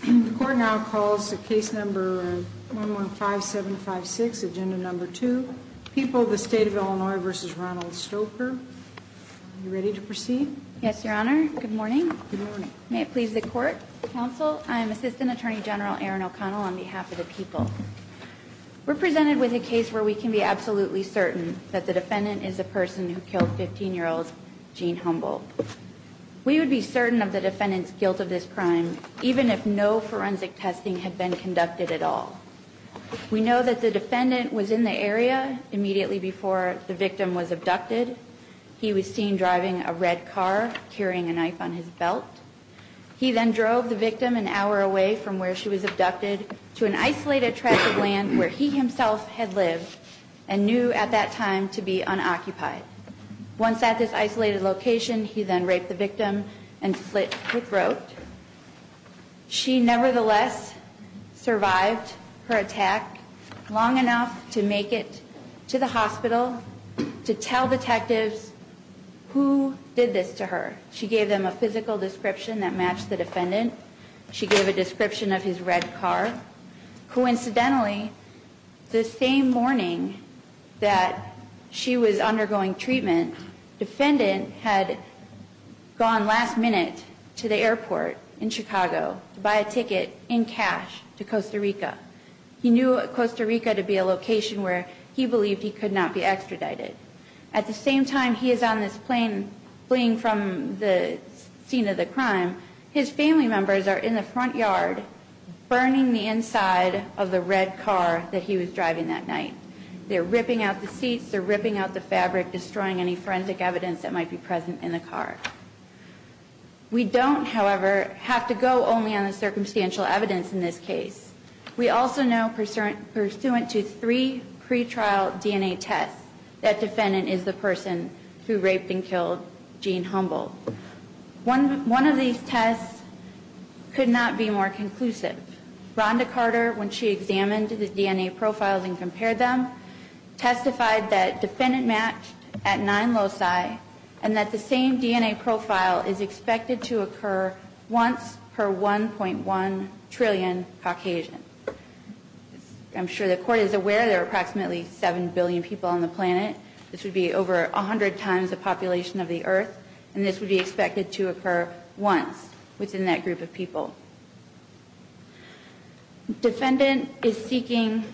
The court now calls the case number 115756, agenda number 2, People v. State of Illinois v. Ronald Stoecker. Are you ready to proceed? Yes, Your Honor. Good morning. May it please the Court, Counsel, I am Assistant Attorney General Erin O'Connell on behalf of the people. We're presented with a case where we can be absolutely certain that the defendant is a person who killed 15-year-old Jean Humboldt. We would be certain of the defendant's guilt of this crime even if no forensic testing had been conducted at all. We know that the defendant was in the area immediately before the victim was abducted. He was seen driving a red car, carrying a knife on his belt. He then drove the victim an hour away from where she was abducted to an isolated tract of land where he himself had lived and knew at that time to be unoccupied. Once at this isolated location, he then raped the victim and slit her throat. She nevertheless survived her attack long enough to make it to the hospital to tell detectives who did this to her. She gave them a physical description that matched the defendant. She gave a description of his red car. Coincidentally, the same morning that she was undergoing treatment, the defendant had gone last minute to the airport in Chicago to buy a ticket in cash to Costa Rica. He knew Costa Rica to be a location where he believed he could not be extradited. At the same time he is on this plane fleeing from the scene of the crime, his family members are in the front yard burning the inside of the red car that he was driving that night. They're ripping out the seats. They're ripping out the fabric, destroying any forensic evidence that might be present in the car. We don't, however, have to go only on the circumstantial evidence in this case. We also know, pursuant to three pretrial DNA tests, that defendant is the person who raped and killed Jean Humboldt. One of these tests could not be more conclusive. Rhonda Carter, when she examined the DNA profiles and compared them, testified that defendant matched at 9 loci and that the same DNA profile is expected to occur once per 1.1 trillion Caucasians. I'm sure the Court is aware there are approximately 7 billion people on the planet. This would be over 100 times the population of the Earth. And this would be expected to occur once within that group of people. Defendant is seeking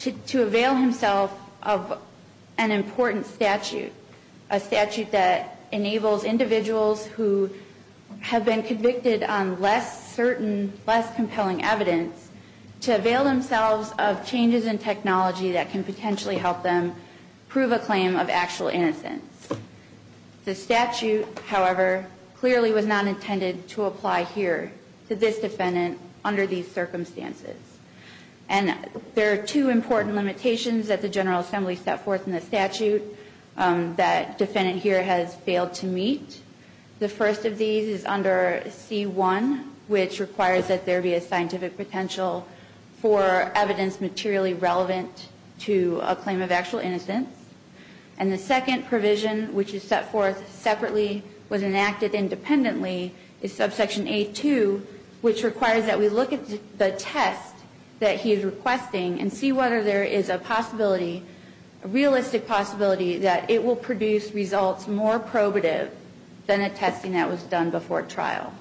to avail himself of an important statute, a statute that enables individuals who have been convicted on less certain, less compelling evidence to avail themselves of changes in technology that can potentially help them prove a claim of actual innocence. The statute, however, clearly was not intended to apply here to this defendant under these circumstances. And there are two important limitations that the General Assembly set forth in the statute that defendant here has failed to meet. The first of these is under C1, which requires that there be a scientific potential for evidence materially relevant to a claim of actual innocence. And the second provision, which is set forth separately, was enacted independently, is subsection A2, which requires that we look at the test that he is requesting and see whether there is a possibility, a realistic possibility, that it will produce results more probative than a testing that was done before trial.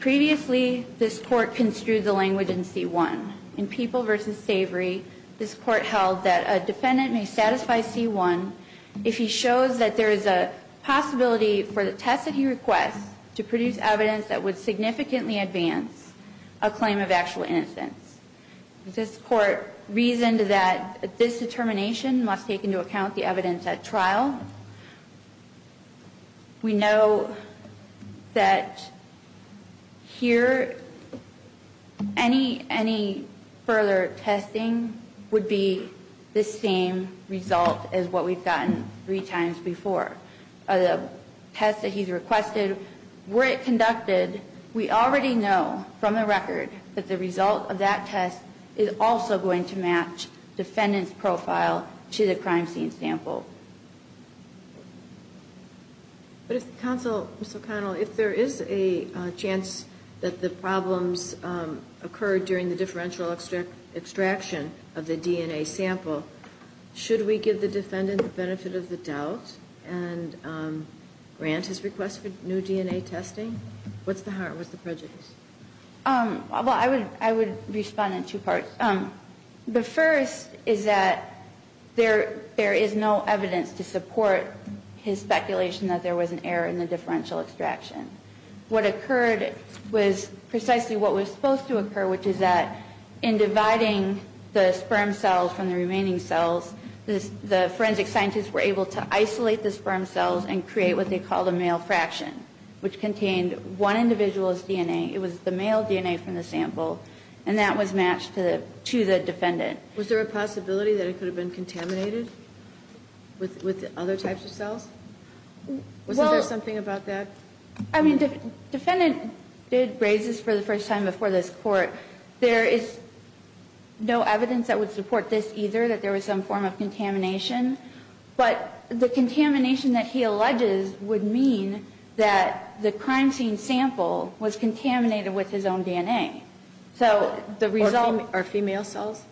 Previously, this Court construed the language in C1. In People v. Savory, this Court held that a defendant may satisfy C1 if he shows that there is a possibility for the test that he requests to produce evidence that would significantly advance a claim of actual innocence. This Court reasoned that this determination must take into account the evidence at trial. We know that here any further testing would be the same result as what we've gotten three times before. The test that he's requested, were it conducted, we already know from the record that the result of that test is also going to match defendant's profile to the crime scene sample. But if counsel, Ms. O'Connell, if there is a chance that the problems occurred during the differential extraction of the DNA sample, should we give the defendant the benefit of the doubt and grant his request for new DNA testing? What's the prejudice? Well, I would respond in two parts. The first is that there is no evidence to support his speculation that there was an error in the differential extraction. What occurred was precisely what was supposed to occur, which is that in dividing the sperm cells from the remaining cells, the forensic scientists were able to isolate the sperm cells and create what they called a male fraction, which contained one individual's DNA. It was the male DNA from the sample, and that was matched to the defendant. Was there a possibility that it could have been contaminated with other types of cells? Wasn't there something about that? I mean, the defendant did raise this for the first time before this Court. There is no evidence that would support this either, that there was some form of contamination. But the contamination that he alleges would mean that the crime scene sample was contaminated with his own DNA. So the result... Or female cells?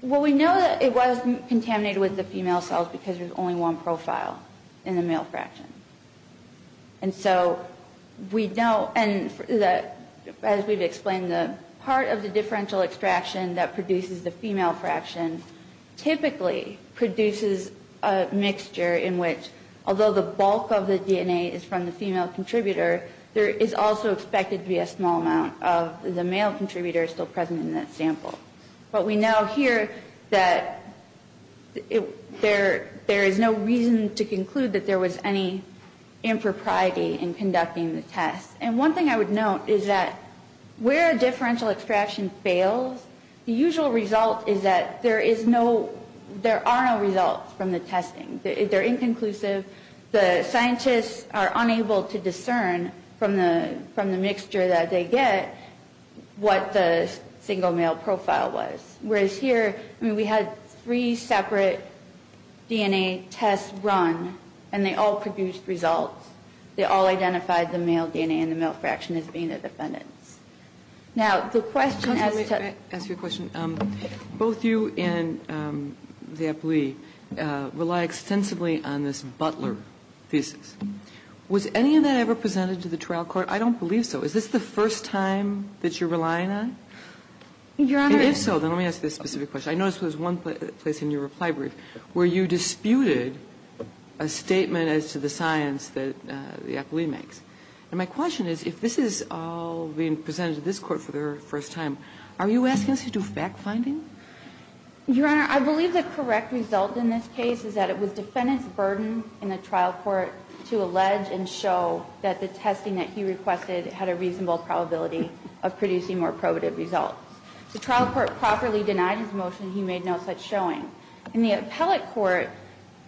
Well, we know that it was contaminated with the female cells because there's only one profile in the male fraction. And so we know, and as we've explained, that part of the differential extraction that produces the female fraction typically produces a mixture in which, although the bulk of the DNA is from the female contributor, there is also expected to be a small amount of the male contributor still present in that sample. But we know here that there is no reason to conclude that there was any impropriety in conducting the test. And one thing I would note is that where a differential extraction fails, the usual result is that there are no results from the testing. They're inconclusive. The scientists are unable to discern from the mixture that they get what the single male profile was. Whereas here, I mean, we had three separate DNA tests run, and they all produced results. They all identified the male DNA in the male fraction as being the defendants. Now, the question as to... Let me ask you a question. Both you and the appellee rely extensively on this Butler thesis. Was any of that ever presented to the trial court? I don't believe so. Is this the first time that you're relying on? Your Honor... And if so, then let me ask you this specific question. I noticed there was one place in your reply brief where you disputed a statement as to the science that the appellee makes. And my question is, if this is all being presented to this Court for the first time, are you asking us to do fact-finding? Your Honor, I believe the correct result in this case is that it was defendant's burden in the trial court to allege and show that the testing that he requested had a reasonable probability of producing more probative results. The trial court properly denied his motion. He made no such showing. In the appellate court,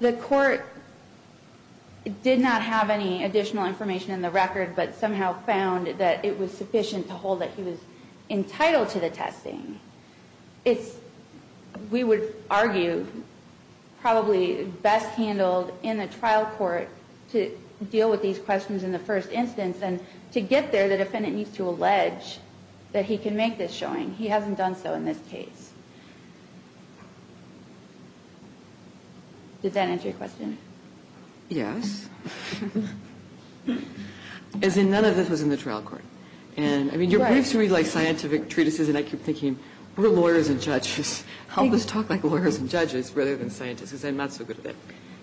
the court did not have any additional information in the record, but somehow found that it was sufficient to hold that he was entitled to the testing. It's, we would argue, probably best handled in the trial court to deal with these questions in the first instance. And to get there, the defendant needs to allege that he can make this showing. He hasn't done so in this case. Does that answer your question? Yes. As in, none of this was in the trial court. And, I mean, your briefs are really like scientific treatises, and I keep thinking, we're lawyers and judges. Help us talk like lawyers and judges rather than scientists, because I'm not so good at it.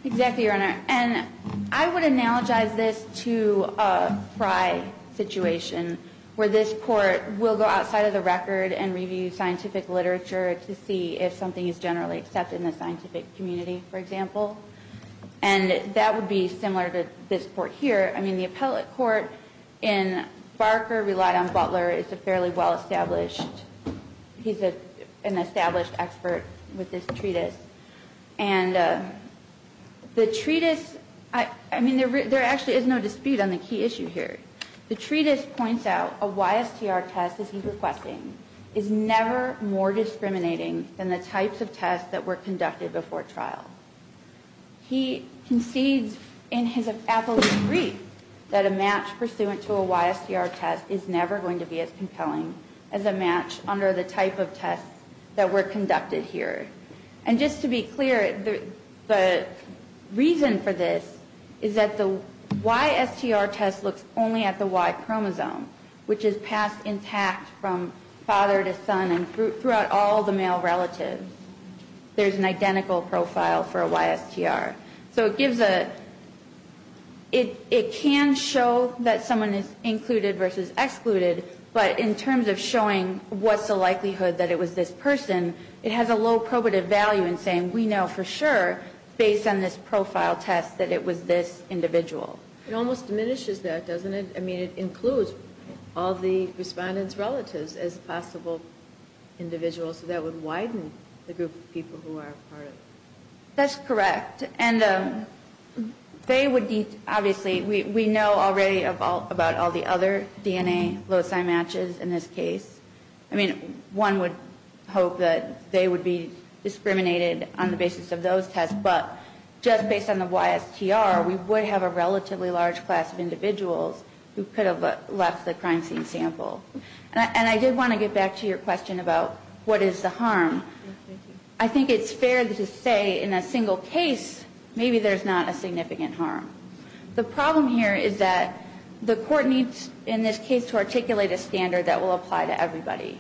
Exactly, Your Honor. And I would analogize this to a Frye situation, where this court will go outside of the record and review scientific literature to see if something is generally accepted in the scientific community, for example. And that would be similar to this court here. I mean, the appellate court in Barker relied on Butler. He's a fairly well-established, he's an established expert with this treatise. And the treatise, I mean, there actually is no dispute on the key issue here. The treatise points out a YSTR test, as he's requesting, is never more discriminating than the types of tests that were conducted before trial. He concedes in his appellate brief that a match pursuant to a YSTR test is never going to be as compelling as a match under the type of tests that were conducted here. And just to be clear, the reason for this is that the YSTR test looks only at the Y chromosome, which is passed intact from father to son and throughout all the male relatives. There's an identical profile for a YSTR. So it gives a, it can show that someone is included versus excluded, but in terms of showing what's the likelihood that it was this person, it has a low probative value in saying we know for sure, based on this profile test, that it was this individual. It almost diminishes that, doesn't it? I mean, it includes all the respondent's relatives as possible individuals, so that would widen the group of people who are part of it. That's correct. And they would need, obviously, we know already about all the other DNA loci matches in this case. I mean, one would hope that they would be discriminated on the basis of those tests, but just based on the YSTR, we would have a relatively large class of individuals who could have left the crime scene sample. And I did want to get back to your question about what is the harm. I think it's fair to say in a single case, maybe there's not a significant harm. The problem here is that the court needs, in this case, to articulate a standard that will apply to everybody.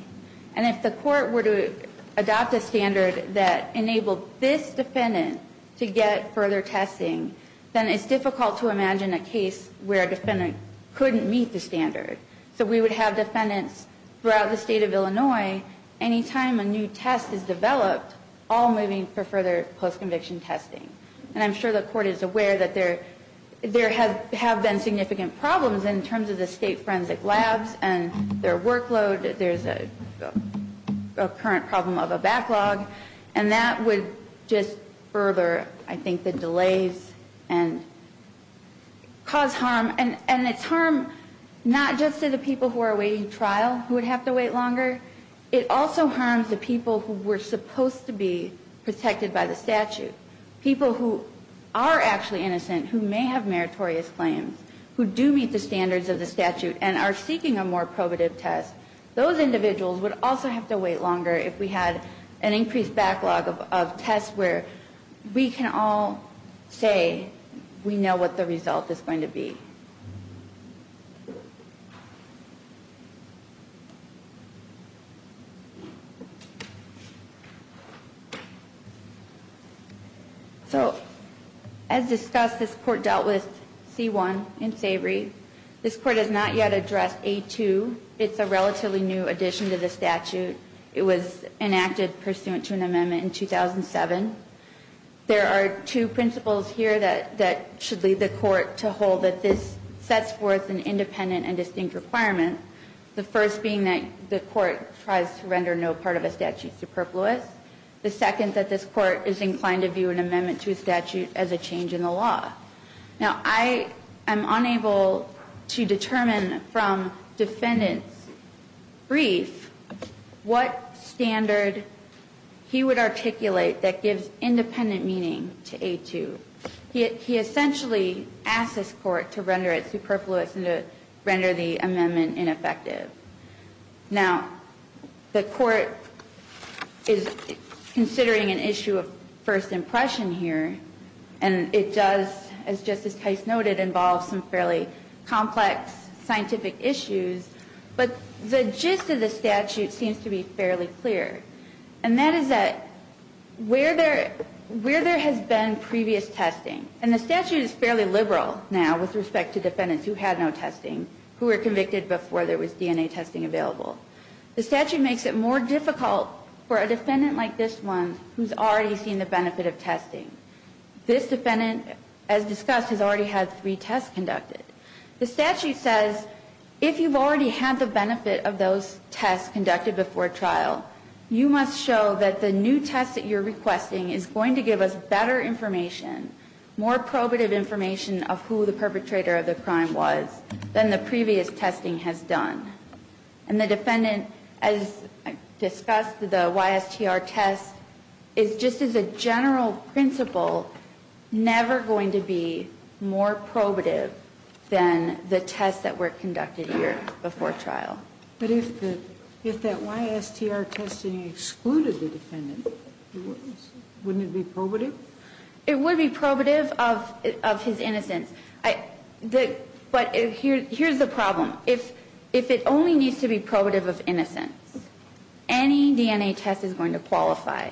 And if the court were to adopt a standard that enabled this defendant to get further testing, then it's difficult to imagine a case where a defendant couldn't meet the standard. So we would have defendants throughout the state of Illinois, any time a new test is developed, all moving for further post-conviction testing. And I'm sure the court is aware that there have been significant problems in terms of the state forensic labs and their workload. There's a current problem of a backlog. And that would just further, I think, the delays and cause harm. And it's harm not just to the people who are awaiting trial who would have to wait longer. It also harms the people who were supposed to be protected by the statute. People who are actually innocent, who may have meritorious claims, who do meet the standards of the statute and are seeking a more probative test. Those individuals would also have to wait longer if we had an increased backlog of tests where we can all say we know what the result is going to be. So, as discussed, this court dealt with C-1 in Savory. This court has not yet addressed A-2. It's a relatively new addition to the statute. It was enacted pursuant to an amendment in 2007. There are two principles here that should lead the court to hold that this is not a new statute. One is that this sets forth an independent and distinct requirement, the first being that the court tries to render no part of a statute superfluous. The second, that this court is inclined to view an amendment to a statute as a change in the law. Now, I am unable to determine from defendants' brief what standard he would articulate that gives independent meaning to A-2. He essentially asks this court to render it superfluous and to render the amendment ineffective. Now, the court is considering an issue of first impression here, and it does, as Justice Keist noted, involve some fairly complex scientific issues, but the gist of the statute seems to be fairly clear. And that is that where there has been previous testing, and the statute is fairly liberal now with respect to defendants who had no testing, who were convicted before there was DNA testing available, the statute makes it more difficult for a defendant like this one, who's already seen the benefit of testing. This defendant, as discussed, has already had three tests conducted. The statute says, if you've already had the benefit of those tests conducted before trial, you must show that the new test that you're requesting is going to give us better information, more probative information of who the perpetrator of the crime was, than the previous testing has done. And the defendant, as discussed, the YSTR test, is just as a general principle never going to be more probative than the tests that were conducted here before trial. But if that YSTR testing excluded the defendant, wouldn't it be probative? It would be probative of his innocence. But here's the problem. If it only needs to be probative of innocence, any DNA test is going to qualify.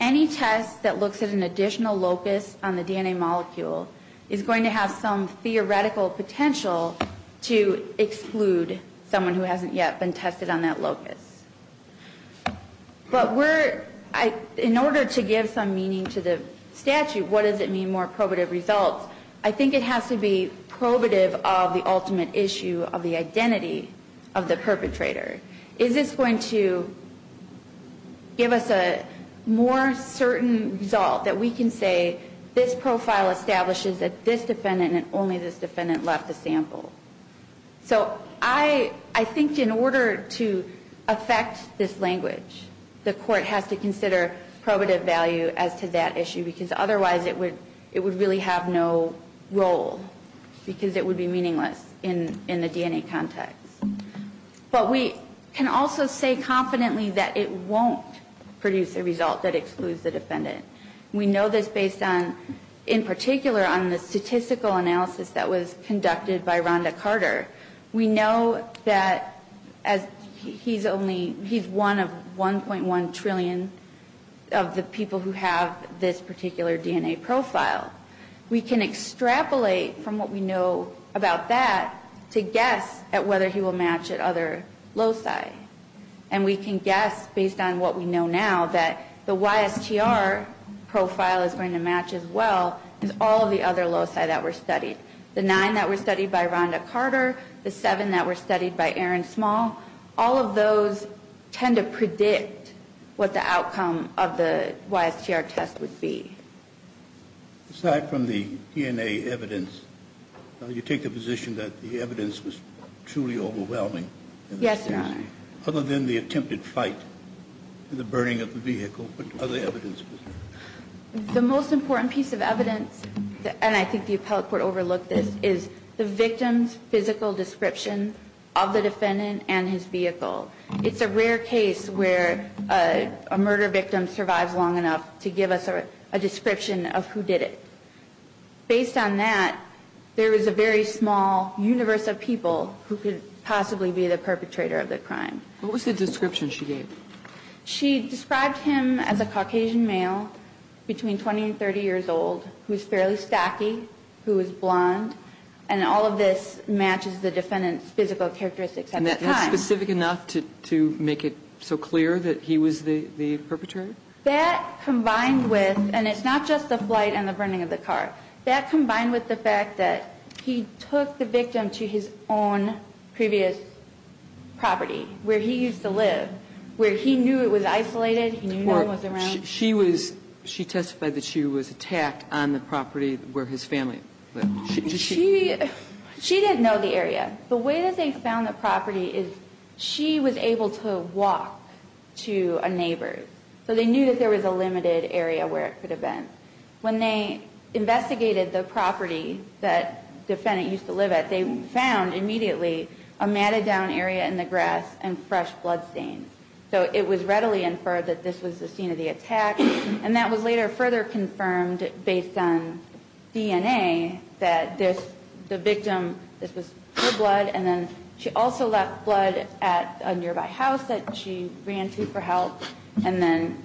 Any test that looks at an additional locus on the DNA molecule is going to have some theoretical potential to exclude someone who hasn't yet been tested on that locus. But in order to give some meaning to the statute, what does it mean more probative results? I think it has to be probative of the ultimate issue of the identity of the perpetrator. Is this going to give us a more certain result that we can say, this profile establishes that this defendant and only this defendant left the sample? So I think in order to affect this language, the court has to consider probative value as to that issue, because otherwise it would really have no role, because it would be meaningless in the DNA context. But we can also say confidently that it won't produce a result that excludes the defendant. We know this based on, in particular, on the statistical analysis that was conducted by Rhonda Carter. We know that he's one of 1.1 trillion of the people who have this particular DNA profile. We can extrapolate from what we know about that to guess at whether he will match at other loci. And we can guess, based on what we know now, that the YSTR profile is going to match as well as all of the other loci that were studied. The nine that were studied by Rhonda Carter, the seven that were studied by Aaron Small, all of those tend to predict what the outcome of the YSTR test would be. Aside from the DNA evidence, you take the position that the evidence was truly overwhelming? Yes, Your Honor. Other than the attempted fight and the burning of the vehicle, what other evidence was there? The most important piece of evidence, and I think the appellate court overlooked this, is the victim's physical description of the defendant and his vehicle. It's a rare case where a murder victim survives long enough to give us a description of who did it. Based on that, there is a very small universe of people who could possibly be the perpetrator of the crime. What was the description she gave? She described him as a Caucasian male, between 20 and 30 years old, who is fairly stacky, who is blonde. And all of this matches the defendant's physical characteristics at the time. Was that specific enough to make it so clear that he was the perpetrator? That combined with, and it's not just the flight and the burning of the car, that combined with the fact that he took the victim to his own previous property where he used to live, where he knew it was isolated, he knew no one was around. She testified that she was attacked on the property where his family lived. She didn't know the area. The way that they found the property is she was able to walk to a neighbor's. So they knew that there was a limited area where it could have been. When they investigated the property that the defendant used to live at, they found immediately a matted-down area in the grass and fresh bloodstains. So it was readily inferred that this was the scene of the attack. And that was later further confirmed based on DNA that the victim, this was her blood, and then she also left blood at a nearby house that she ran to for help, and then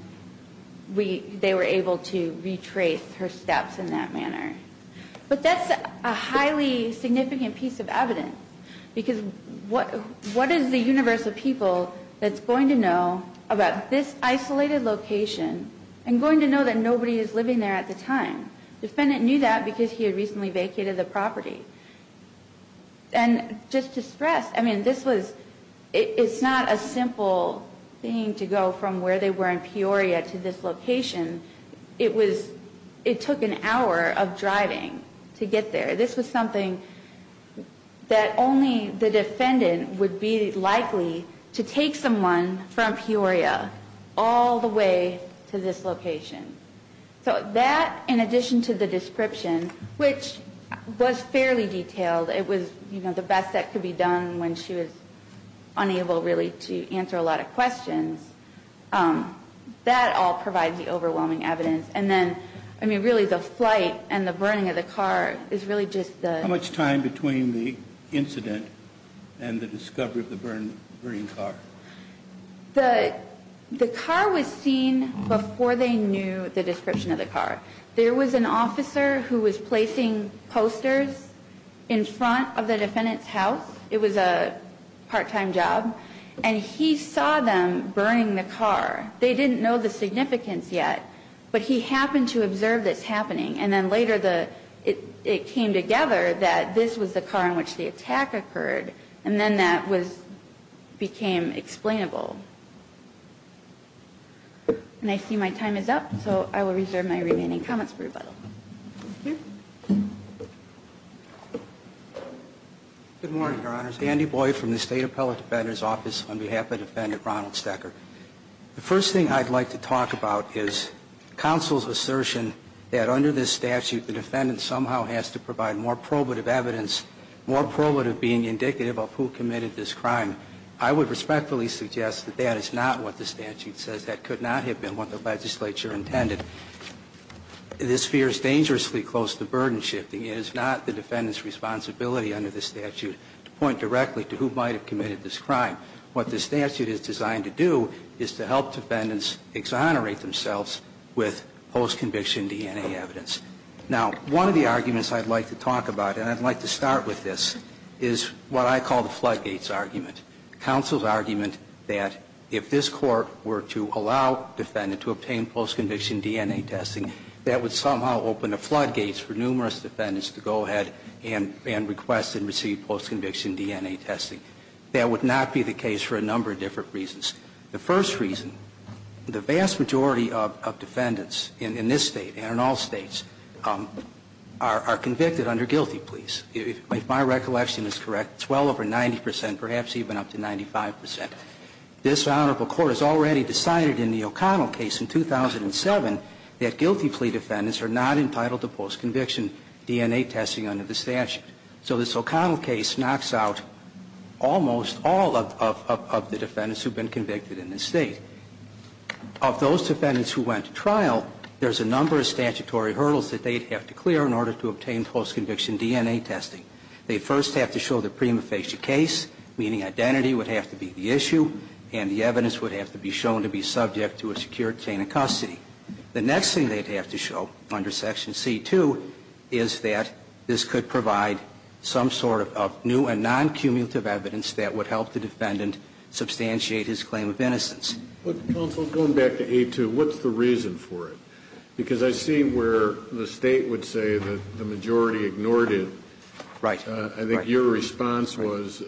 they were able to retrace her steps in that manner. But that's a highly significant piece of evidence, because what is the universe of people that's going to know about this isolated location and going to know that nobody is living there at the time? The defendant knew that because he had recently vacated the property. And just to stress, I mean, this was, it's not a simple thing to go from where they were in Peoria to this location. It was, it took an hour of driving to get there. This was something that only the defendant would be likely to take someone from Peoria all the way to this location. So that, in addition to the description, which was fairly detailed, it was, you know, the best that could be done when she was unable really to answer a lot of questions, that all provides the overwhelming evidence. And then, I mean, really the flight and the burning of the car is really just the... How much time between the incident and the discovery of the burning car? The car was seen before they knew the description of the car. There was an officer who was placing posters in front of the defendant's house. It was a part-time job. And he saw them burning the car. They didn't know the significance yet. But he happened to observe this happening. And then later the, it came together that this was the car in which the attack occurred. And then that was, became explainable. And I see my time is up. So I will reserve my remaining comments for rebuttal. Thank you. Good morning, Your Honors. Andy Boyd from the State Appellate Defender's Office on behalf of Defendant Ronald Stecker. The first thing I'd like to talk about is counsel's assertion that under this statute, the defendant somehow has to provide more probative evidence, more probative being indicative of who committed this crime. I would respectfully suggest that that is not what the statute says. That could not have been what the legislature intended. This fear is dangerously close to burden shifting. It is not the defendant's responsibility under this statute to point directly to who might have committed this crime. What the statute is designed to do is to help defendants exonerate themselves with post-conviction DNA evidence. Now, one of the arguments I'd like to talk about, and I'd like to start with this, is what I call the floodgates argument. Counsel's argument that if this court were to allow defendant to obtain post-conviction DNA testing, that would somehow open the floodgates for numerous defendants to go ahead and request and receive post-conviction DNA testing. That would not be the case for a number of different reasons. The first reason, the vast majority of defendants in this State and in all States are convicted under guilty pleas. If my recollection is correct, it's well over 90 percent, perhaps even up to 95 percent. This Honorable Court has already decided in the O'Connell case in 2007 that guilty plea defendants are not entitled to post-conviction DNA testing under the statute. So this O'Connell case knocks out almost all of the defendants who've been convicted in this State. Of those defendants who went to trial, there's a number of statutory hurdles that they'd have to clear in order to obtain post-conviction DNA testing. They first have to show their prima facie case, meaning identity would have to be the issue, and the evidence would have to be shown to be subject to a secure chain of custody. The next thing they'd have to show under Section C-2 is that this could provide some sort of new and non-cumulative evidence that would help the defendant substantiate his claim of innocence. But, counsel, going back to A-2, what's the reason for it? Because I see where the State would say that the majority ignored it. Right. I think your response was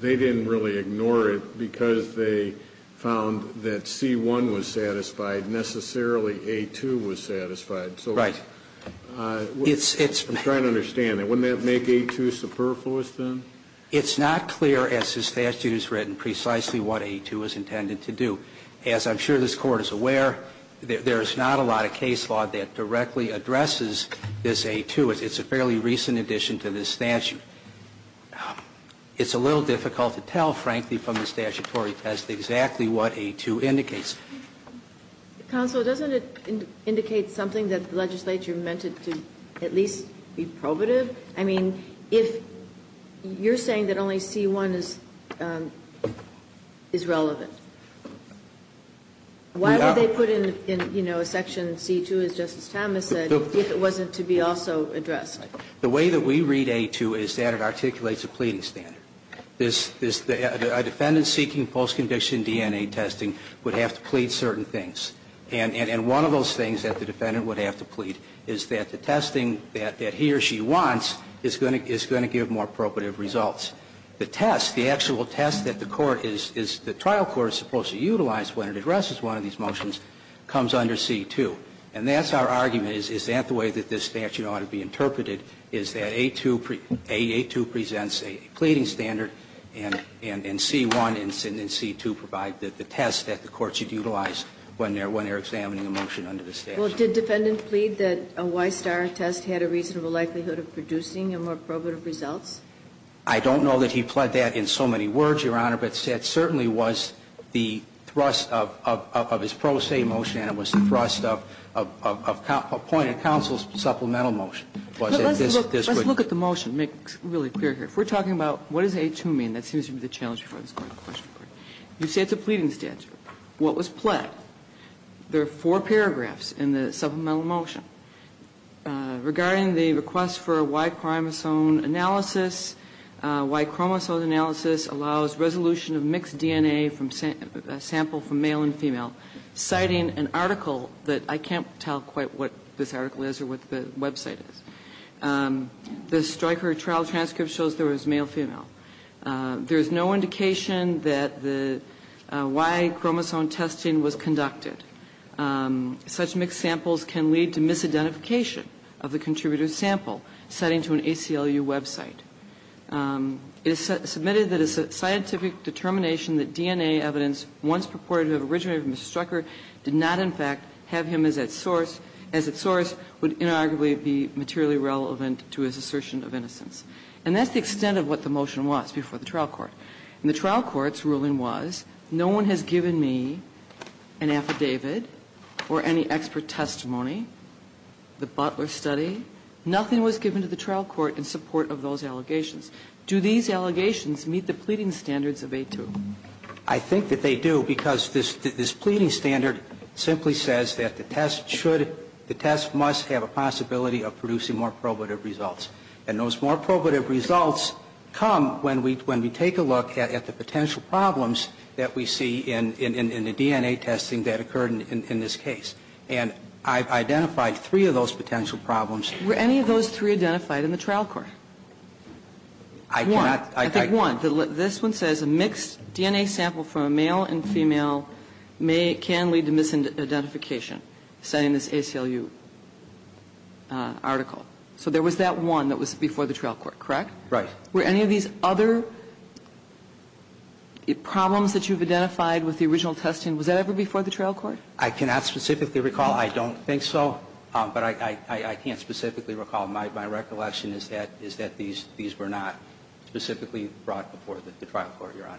they didn't really ignore it because they found that C-1 was satisfied, necessarily A-2 was satisfied. Right. I'm trying to understand that. Wouldn't that make A-2 superfluous, then? It's not clear, as the statute has written, precisely what A-2 is intended to do. As I'm sure this Court is aware, there's not a lot of case law that directly addresses this A-2. It's a fairly recent addition to this statute. It's a little difficult to tell, frankly, from the statutory test, exactly what A-2 indicates. Counsel, doesn't it indicate something that the legislature meant it to at least be probative? I mean, if you're saying that only C-1 is relevant, why would they put in, you know, a section C-2, as Justice Thomas said, if it wasn't to be also addressed? The way that we read A-2 is that it articulates a pleading standard. A defendant seeking post-conviction DNA testing would have to plead certain things. And one of those things that the defendant would have to plead is that the testing that he or she wants is going to give more probative results. The test, the actual test that the trial court is supposed to utilize when it addresses one of these motions comes under C-2. And that's our argument, is that the way that this statute ought to be interpreted, is that A-2 presents a pleading standard, and C-1 and C-2 provide the test that the court should utilize when they're examining a motion under the statute. Well, did the defendant plead that a Y-star test had a reasonable likelihood of producing more probative results? I don't know that he pled that in so many words, Your Honor, but that certainly was the thrust of his pro se motion, and it was the thrust of appointed counsel's supplemental motion. Let's look at the motion to make it really clear here. If we're talking about what does A-2 mean, that seems to be the challenge before this Court in the question part. You say it's a pleading statute. What was pled? There are four paragraphs in the supplemental motion. Regarding the request for Y-chromosome analysis, Y-chromosome analysis allows that I can't tell quite what this article is or what the website is. The Stryker trial transcript shows there was male-female. There is no indication that the Y-chromosome testing was conducted. Such mixed samples can lead to misidentification of the contributor's sample, citing to an ACLU website. It is submitted that it's a scientific determination that DNA evidence once purported to have originated from Mr. Stryker did not, in fact, have him as its source, would inarguably be materially relevant to his assertion of innocence. And that's the extent of what the motion was before the trial court. And the trial court's ruling was no one has given me an affidavit or any expert testimony, the Butler study. Nothing was given to the trial court in support of those allegations. Do these allegations meet the pleading standards of A-2? I think that they do, because this pleading standard simply says that the test should the test must have a possibility of producing more probative results. And those more probative results come when we take a look at the potential problems that we see in the DNA testing that occurred in this case. And I've identified three of those potential problems. Were any of those three identified in the trial court? I cannot. I think one. This one says a mixed DNA sample from a male and female can lead to misidentification, saying this ACLU article. So there was that one that was before the trial court, correct? Right. Were any of these other problems that you've identified with the original testing, was that ever before the trial court? I cannot specifically recall. I don't think so. But I can't specifically recall. My recollection is that these were not specifically brought before the trial court, Your Honor.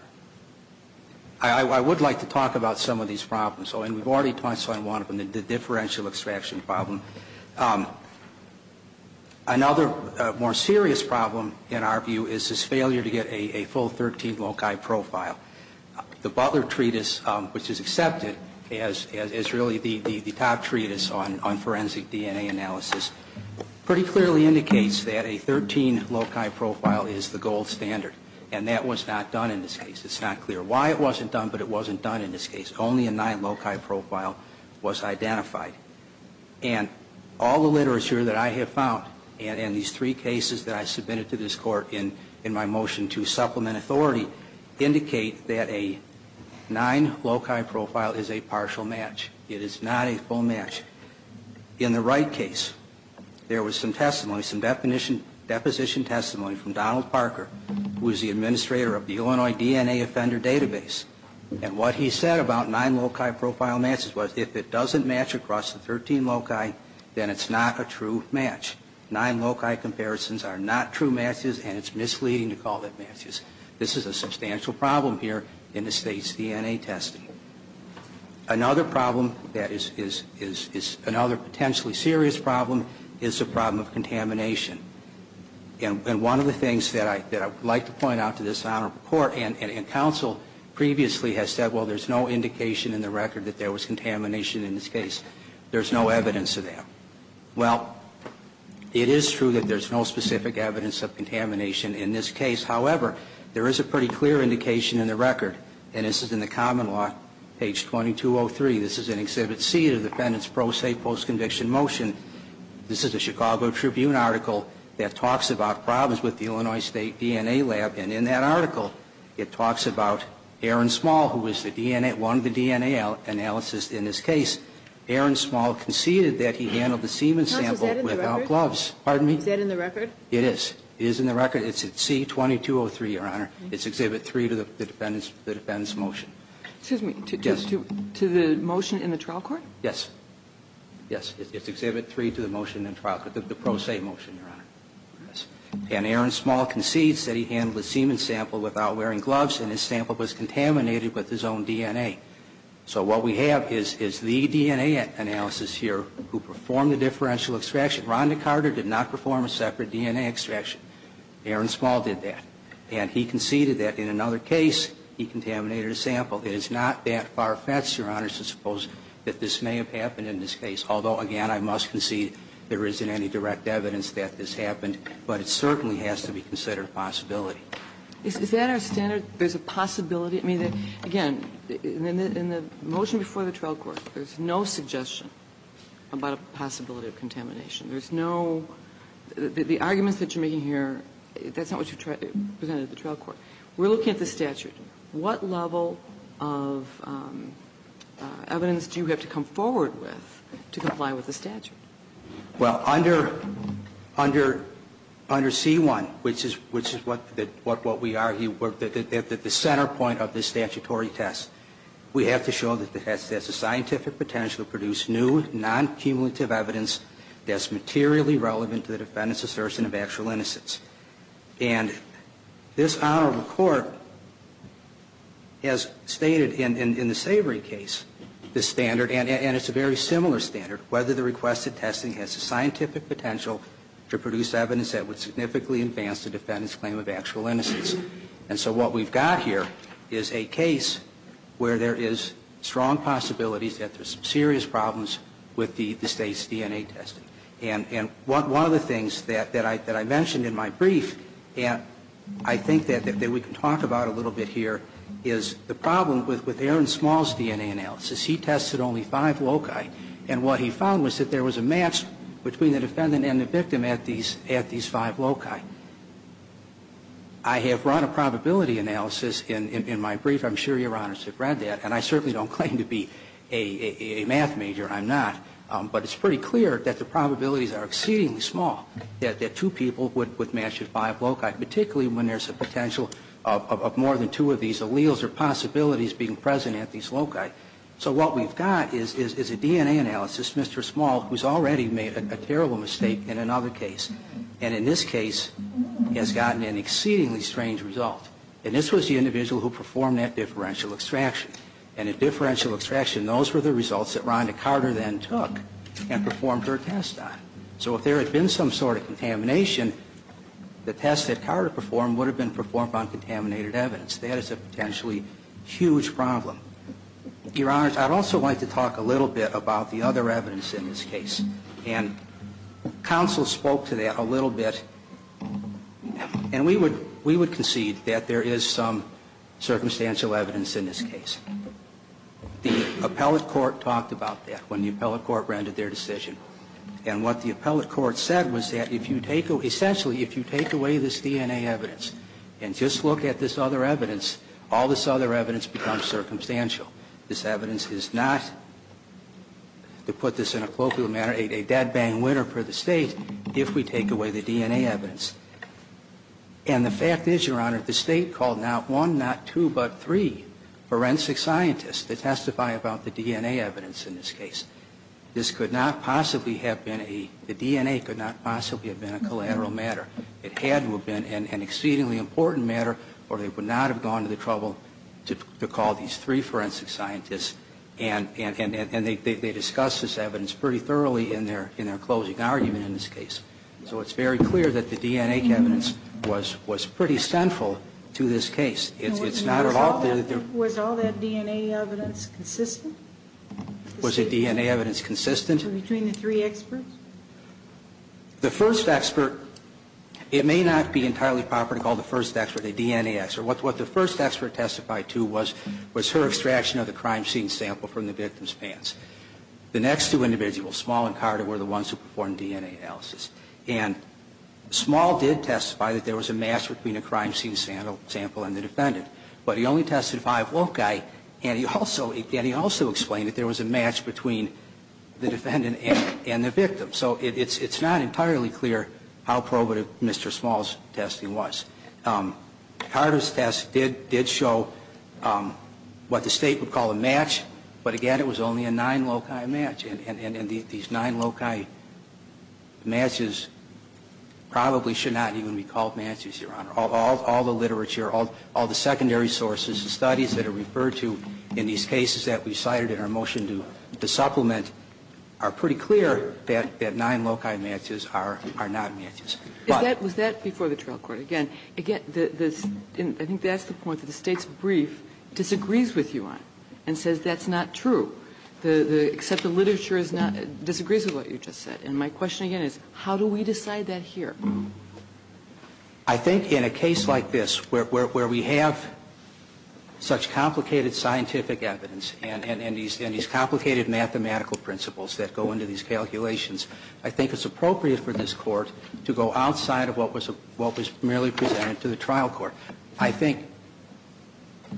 I would like to talk about some of these problems. And we've already touched on one of them, the differential extraction problem. Another more serious problem, in our view, is this failure to get a full 13 loci profile. The Butler Treatise, which is accepted as really the top treatise on forensic DNA analysis, pretty clearly indicates that a 13 loci profile is the gold standard. And that was not done in this case. It's not clear why it wasn't done, but it wasn't done in this case. Only a 9 loci profile was identified. And all the literature that I have found, and these three cases that I submitted to this court in my motion to supplement authority, indicate that a 9 loci profile is a partial match. It is not a full match. In the Wright case, there was some testimony, some deposition testimony from Donald Parker, who is the administrator of the Illinois DNA Offender Database. And what he said about 9 loci profile matches was if it doesn't match across the 13 loci, then it's not a true match. 9 loci comparisons are not true matches, and it's misleading to call them matches. This is a substantial problem here in the State's DNA testing. Another problem that is another potentially serious problem is the problem of contamination. And one of the things that I would like to point out to this Honorable Court, and counsel previously has said, well, there's no indication in the record that there was contamination in this case. There's no evidence of that. Well, it is true that there's no specific evidence of contamination in this case. However, there is a pretty clear indication in the record, and this is in the common law, page 2203. This is in Exhibit C of the Defendant's Pro Se Postconviction Motion. This is a Chicago Tribune article that talks about problems with the Illinois State DNA Lab. And in that article, it talks about Aaron Small, who was the DNA, one of the DNA analysis in this case. Aaron Small conceded that he handled the semen sample without gloves. Is that in the record? Pardon me? Is that in the record? It is. It is in the record. It's at C2203, Your Honor. It's Exhibit 3 to the Defendant's motion. Excuse me. To the motion in the trial court? Yes. Yes. It's Exhibit 3 to the motion in the trial court, the Pro Se motion, Your Honor. Yes. And Aaron Small concedes that he handled the semen sample without wearing gloves and his sample was contaminated with his own DNA. So what we have is the DNA analysis here who performed the differential extraction. Rhonda Carter did not perform a separate DNA extraction. Aaron Small did that. And he conceded that in another case, he contaminated a sample. It is not that far-fetched, Your Honor, to suppose that this may have happened in this case, although, again, I must concede there isn't any direct evidence that this happened. But it certainly has to be considered a possibility. Is that our standard? There's a possibility? I mean, again, in the motion before the trial court, there's no suggestion about a possibility of contamination. There's no – the arguments that you're making here, that's not what you're saying, Your Honor. There's no possibility. I mean, if you look at the evidence presented at the trial court, we're looking at the statute. What level of evidence do you have to come forward with to comply with the statute? Well, under C-1, which is what we argue – the center point of the statutory test – we have to show that the test has the scientific potential to produce new, non-cumulative evidence that's materially relevant to the defendant's assertion of actual innocence. And this honorable court has stated in the Savory case the standard, and it's a very similar standard, whether the requested testing has the scientific potential to produce evidence that would significantly advance the defendant's claim of actual innocence. And so what we've got here is a case where there is strong possibilities that there's serious problems with the State's DNA testing. And one of the things that I mentioned in my brief, and I think that we can talk about a little bit here, is the problem with Aaron Small's DNA analysis. He tested only five loci, and what he found was that there was a match between the defendant and the victim at these five loci. I have run a probability analysis in my brief. I'm sure Your Honors have read that, and I certainly don't claim to be a math major. I'm not. But it's pretty clear that the probabilities are exceedingly small, that two people would match at five loci, particularly when there's a potential of more than two of these alleles or possibilities being present at these loci. So what we've got is a DNA analysis, Mr. Small, who's already made a terrible mistake in another case. And in this case, has gotten an exceedingly strange result. And this was the individual who performed that differential extraction. And in differential extraction, those were the results that Rhonda Carter then took and performed her test on. So if there had been some sort of contamination, the test that Carter performed would have been performed on contaminated evidence. That is a potentially huge problem. Your Honors, I'd also like to talk a little bit about the other evidence in this case. And counsel spoke to that a little bit. And we would concede that there is some circumstantial evidence in this case. The appellate court talked about that when the appellate court rendered their decision. And what the appellate court said was that if you take away, essentially, if you take away this DNA evidence and just look at this other evidence, all this other evidence becomes circumstantial. This evidence is not, to put this in a colloquial manner, a dead-bang winner for the State if we take away the DNA evidence. And the fact is, Your Honor, the State called not one, not two, but three forensic scientists to testify about the DNA evidence in this case. This could not possibly have been a, the DNA could not possibly have been a collateral matter. It had to have been an exceedingly important matter, or they would not have gone to the trouble to call these three forensic scientists. And they discussed this evidence pretty thoroughly in their closing argument in this case. So it's very clear that the DNA evidence was pretty central to this case. It's not at all the other. Was all that DNA evidence consistent? Was the DNA evidence consistent? Between the three experts? The first expert, it may not be entirely proper to call the first expert a DNA expert. What the first expert testified to was, was her extraction of the crime scene sample from the victim's pants. The next two individuals, Small and Carter, were the ones who performed DNA analysis. And Small did testify that there was a match between a crime scene sample and the defendant. But he only tested five woke guy, and he also explained that there was a match between the defendant and the victim. So it's not entirely clear how probative Mr. Small's testing was. Carter's test did show what the State would call a match, but again, it was only a nine loci match. And these nine loci matches probably should not even be called matches, Your Honor. All the literature, all the secondary sources and studies that are referred to in these cases that we cited in our motion to supplement are pretty clear that nine loci matches are not matches. Kagan was that before the trial court? Again, I think that's the point, that the State's brief disagrees with you on it and says that's not true, except the literature disagrees with what you just said. And my question again is, how do we decide that here? I think in a case like this where we have such complicated scientific evidence and these complicated mathematical principles that go into these calculations, I think it's appropriate for this Court to go outside of what was merely presented to the trial court. I think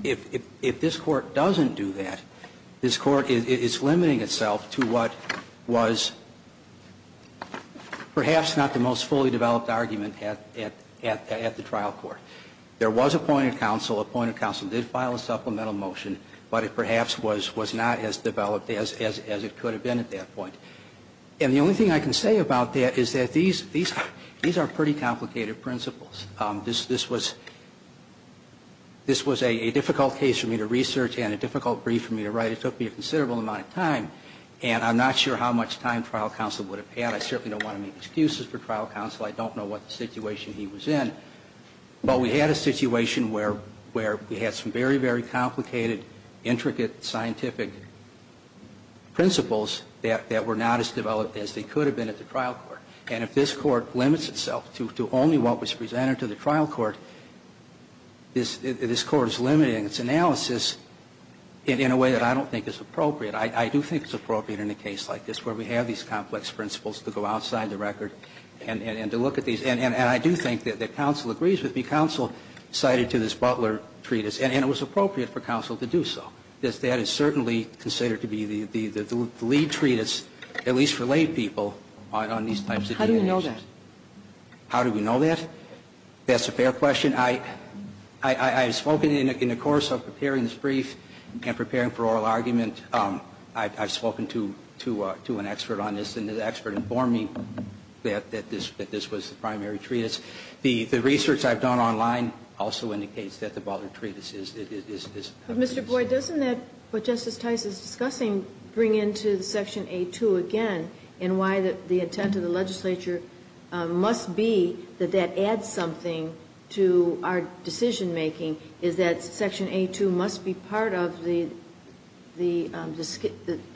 if this Court doesn't do that, this Court is limiting itself to what was perhaps not the most fully developed argument at the trial court. There was appointed counsel. Appointed counsel did file a supplemental motion, but it perhaps was not as developed as it could have been at that point. And the only thing I can say about that is that these are pretty complicated principles. This was a difficult case for me to research and a difficult brief for me to write. It took me a considerable amount of time, and I'm not sure how much time trial counsel would have had. I certainly don't want to make excuses for trial counsel. I don't know what the situation he was in. But we had a situation where we had some very, very complicated, intricate, scientific principles that were not as developed as they could have been at the trial court. And if this Court limits itself to only what was presented to the trial court, this Court is limiting its analysis in a way that I don't think is appropriate. I do think it's appropriate in a case like this where we have these complex principles to go outside the record and to look at these. And I do think that counsel agrees with me. Counsel cited to this Butler treatise, and it was appropriate for counsel to do so. That is certainly considered to be the lead treatise, at least for lay people, on these types of cases. How do you know that? How do we know that? That's a fair question. I have spoken in the course of preparing this brief and preparing for oral argument I've spoken to an expert on this, and the expert informed me that this was the primary treatise. The research I've done online also indicates that the Butler treatise is this. But, Mr. Boyd, doesn't that, what Justice Tice is discussing, bring into Section A-2 again in why the intent of the legislature must be that that adds something to our decision-making is that Section A-2 must be part of the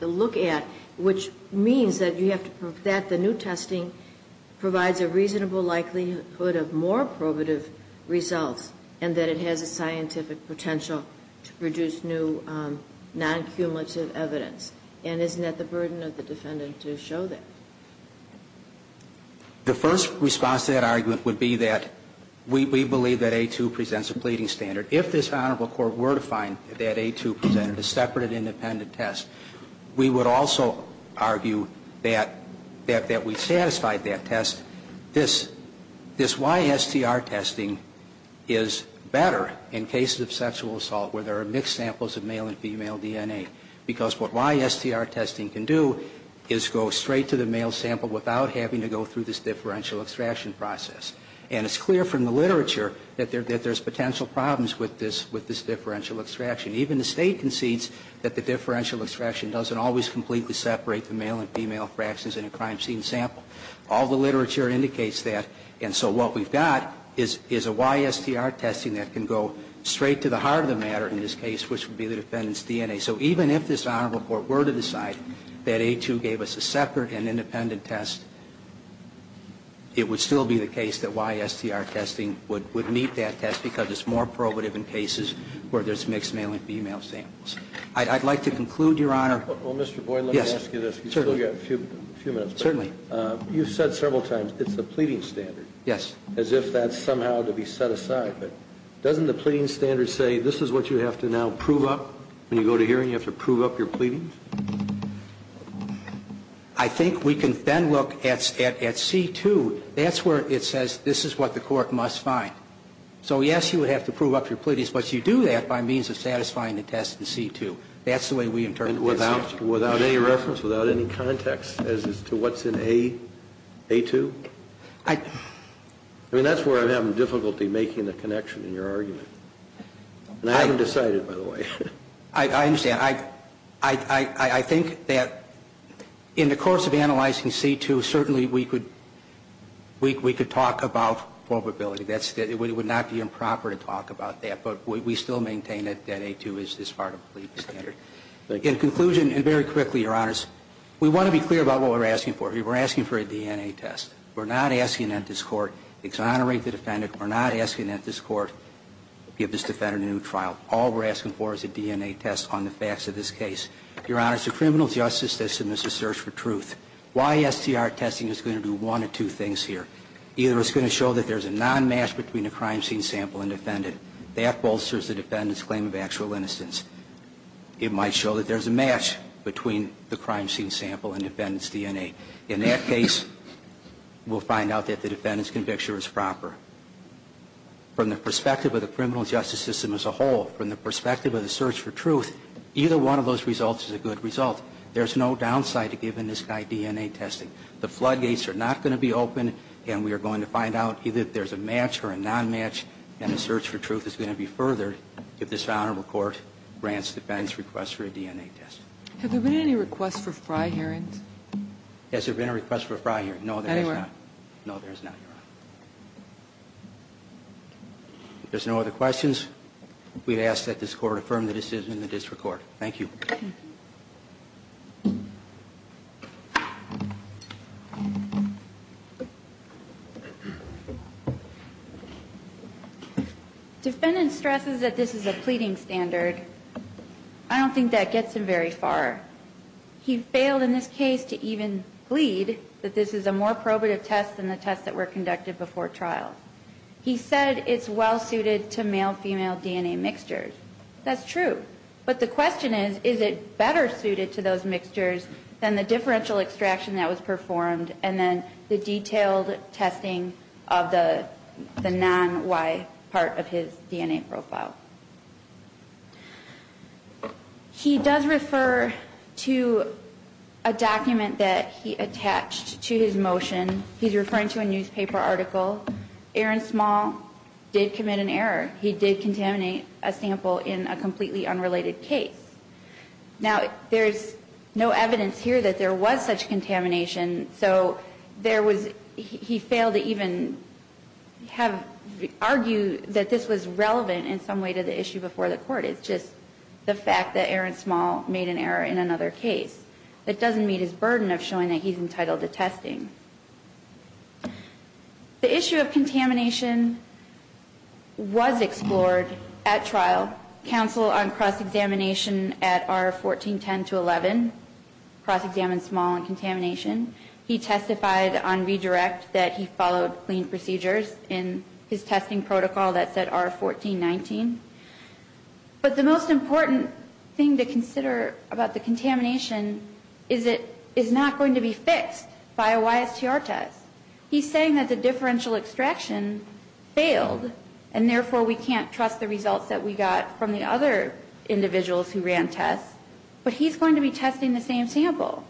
look at, which means that you have to prove that the new testing provides a reasonable likelihood of more probative results and that it has a scientific potential to produce new non-cumulative evidence. And isn't that the burden of the defendant to show that? The first response to that argument would be that we believe that A-2 presents a pleading standard. If this Honorable Court were to find that A-2 presented a separate independent test, we would also argue that we satisfied that test. This YSTR testing is better in cases of sexual assault where there are mixed samples of male and female DNA because what YSTR testing can do is go straight to the male sample without having to go through this differential extraction process. And it's clear from the literature that there's potential problems with this differential extraction. Even the State concedes that the differential extraction doesn't always completely separate the male and female fractions in a crime scene sample. All the literature indicates that. And so what we've got is a YSTR testing that can go straight to the heart of the matter in this case, which would be the defendant's DNA. So even if this Honorable Court were to decide that A-2 gave us a separate and independent test, it would still be the case that YSTR testing would meet that test because it's more probative in cases where there's mixed male and female samples. I'd like to conclude, Your Honor. Well, Mr. Boyd, let me ask you this. Yes, certainly. We've still got a few minutes. Certainly. You've said several times it's a pleading standard. Yes. As if that's somehow to be set aside. But doesn't the pleading standard say this is what you have to now prove up when you go to hearing? You have to prove up your pleading? I think we can then look at C-2. That's where it says this is what the Court must find. So, yes, you would have to prove up your pleadings, but you do that by means of satisfying the test in C-2. That's the way we interpret this. Without any reference, without any context as to what's in A-2? I mean, that's where I'm having difficulty making a connection in your argument. And I haven't decided, by the way. I understand. I think that in the course of analyzing C-2, certainly we could talk about probability. It would not be improper to talk about that, but we still maintain that A-2 is this part of the pleading standard. In conclusion, and very quickly, Your Honors, we want to be clear about what we're asking for. We're asking for a DNA test. We're not asking that this Court exonerate the defendant. We're not asking that this Court give this defendant a new trial. All we're asking for is a DNA test on the facts of this case. Your Honors, the criminal justice system is a search for truth. Why STR testing is going to do one of two things here. Either it's going to show that there's a non-match between a crime scene sample and defendant. That bolsters the defendant's claim of actual innocence. It might show that there's a match between the crime scene sample and defendant's DNA. In that case, we'll find out that the defendant's conviction is proper. From the perspective of the criminal justice system as a whole, from the perspective of the search for truth, either one of those results is a good result. There's no downside to giving this guy DNA testing. The floodgates are not going to be open, and we are going to find out either there's a match or a non-match, and the search for truth is going to be furthered if this And then we'll have to decide whether or not we want to record Grant's defense request for a DNA test. Have there been any requests for friar hearings? Has there been a request for a friar hearing? No, there has not. Anywhere? No, there has not, Your Honor. If there's no other questions, we ask that this Court affirm the decision and that it's recorded. Thank you. Defendant stresses that this is a pleading standard. I don't think that gets him very far. He failed in this case to even plead that this is a more probative test than the tests that were conducted before trial. He said it's well-suited to male-female DNA mixtures. That's true. But the question is, is it better suited to those mixtures than the differential extraction that was performed and then the detailed testing of the non-Y part of his DNA profile? He does refer to a document that he attached to his motion. He's referring to a newspaper article. Aaron Small did commit an error. He did contaminate a sample in a completely unrelated case. Now, there's no evidence here that there was such contamination, so he failed to even argue that this was relevant in some way to the issue before the Court. It's just the fact that Aaron Small made an error in another case. It doesn't meet his burden of showing that he's entitled to testing. The issue of contamination was explored at trial. Counsel on cross-examination at R1410-11 cross-examined Small on contamination. He testified on redirect that he followed clean procedures in his testing protocol that said R1419. But the most important thing to consider about the contamination is it is not going to be fixed by a YSTR test. He's saying that the differential extraction failed and, therefore, we can't trust the results that we got from the other individuals who ran tests. But he's going to be testing the same sample.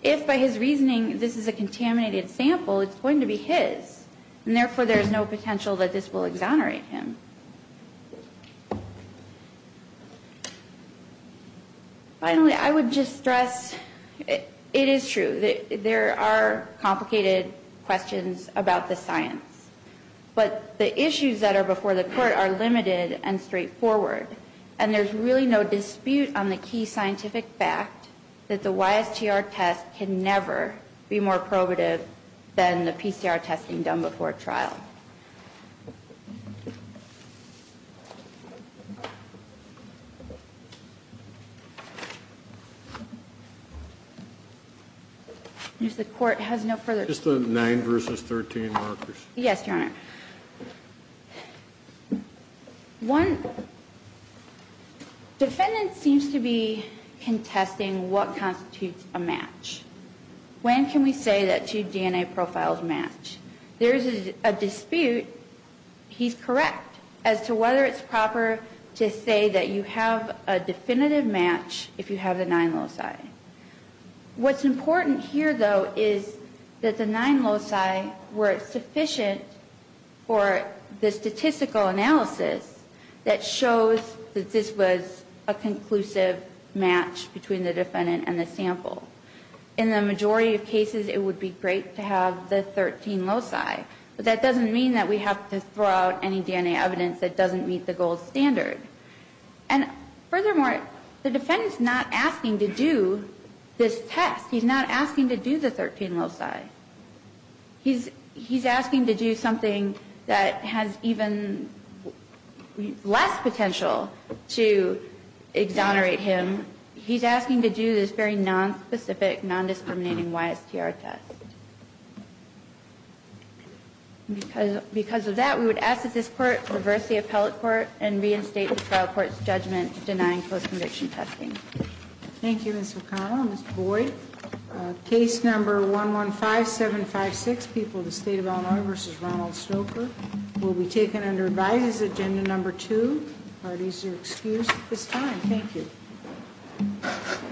If, by his reasoning, this is a contaminated sample, it's going to be his. And, therefore, there's no potential that this will exonerate him. Finally, I would just stress it is true that there are complicated questions about the science. But the issues that are before the Court are limited and straightforward. And there's really no dispute on the key scientific fact that the YSTR test can never be more probative than the PCR testing done before trial. If the Court has no further questions. Just the 9 versus 13 markers. Yes, Your Honor. One, defendant seems to be contesting what constitutes a match. When can we say that two DNA profiles match? There is a distinction. He's correct as to whether it's proper to say that you have a definitive match if you have the 9 loci. What's important here, though, is that the 9 loci were sufficient for the statistical analysis that shows that this was a conclusive match between the defendant and the sample. In the majority of cases, it would be great to have the 13 loci. But that doesn't mean that we have to throw out any DNA evidence that doesn't meet the gold standard. And furthermore, the defendant's not asking to do this test. He's not asking to do the 13 loci. He's asking to do something that has even less potential to exonerate him. He's asking to do this very nonspecific, nondiscriminating YSTR test. Because of that, we would ask that this Court reverse the appellate court and reinstate the trial court's judgment denying post-conviction testing. Thank you, Ms. O'Connor. Mr. Boyd, case number 115756, People of the State of Illinois v. Ronald Stoker, will be taken under Advises, Agenda Number 2. Are these your excuse? It's fine. Thank you.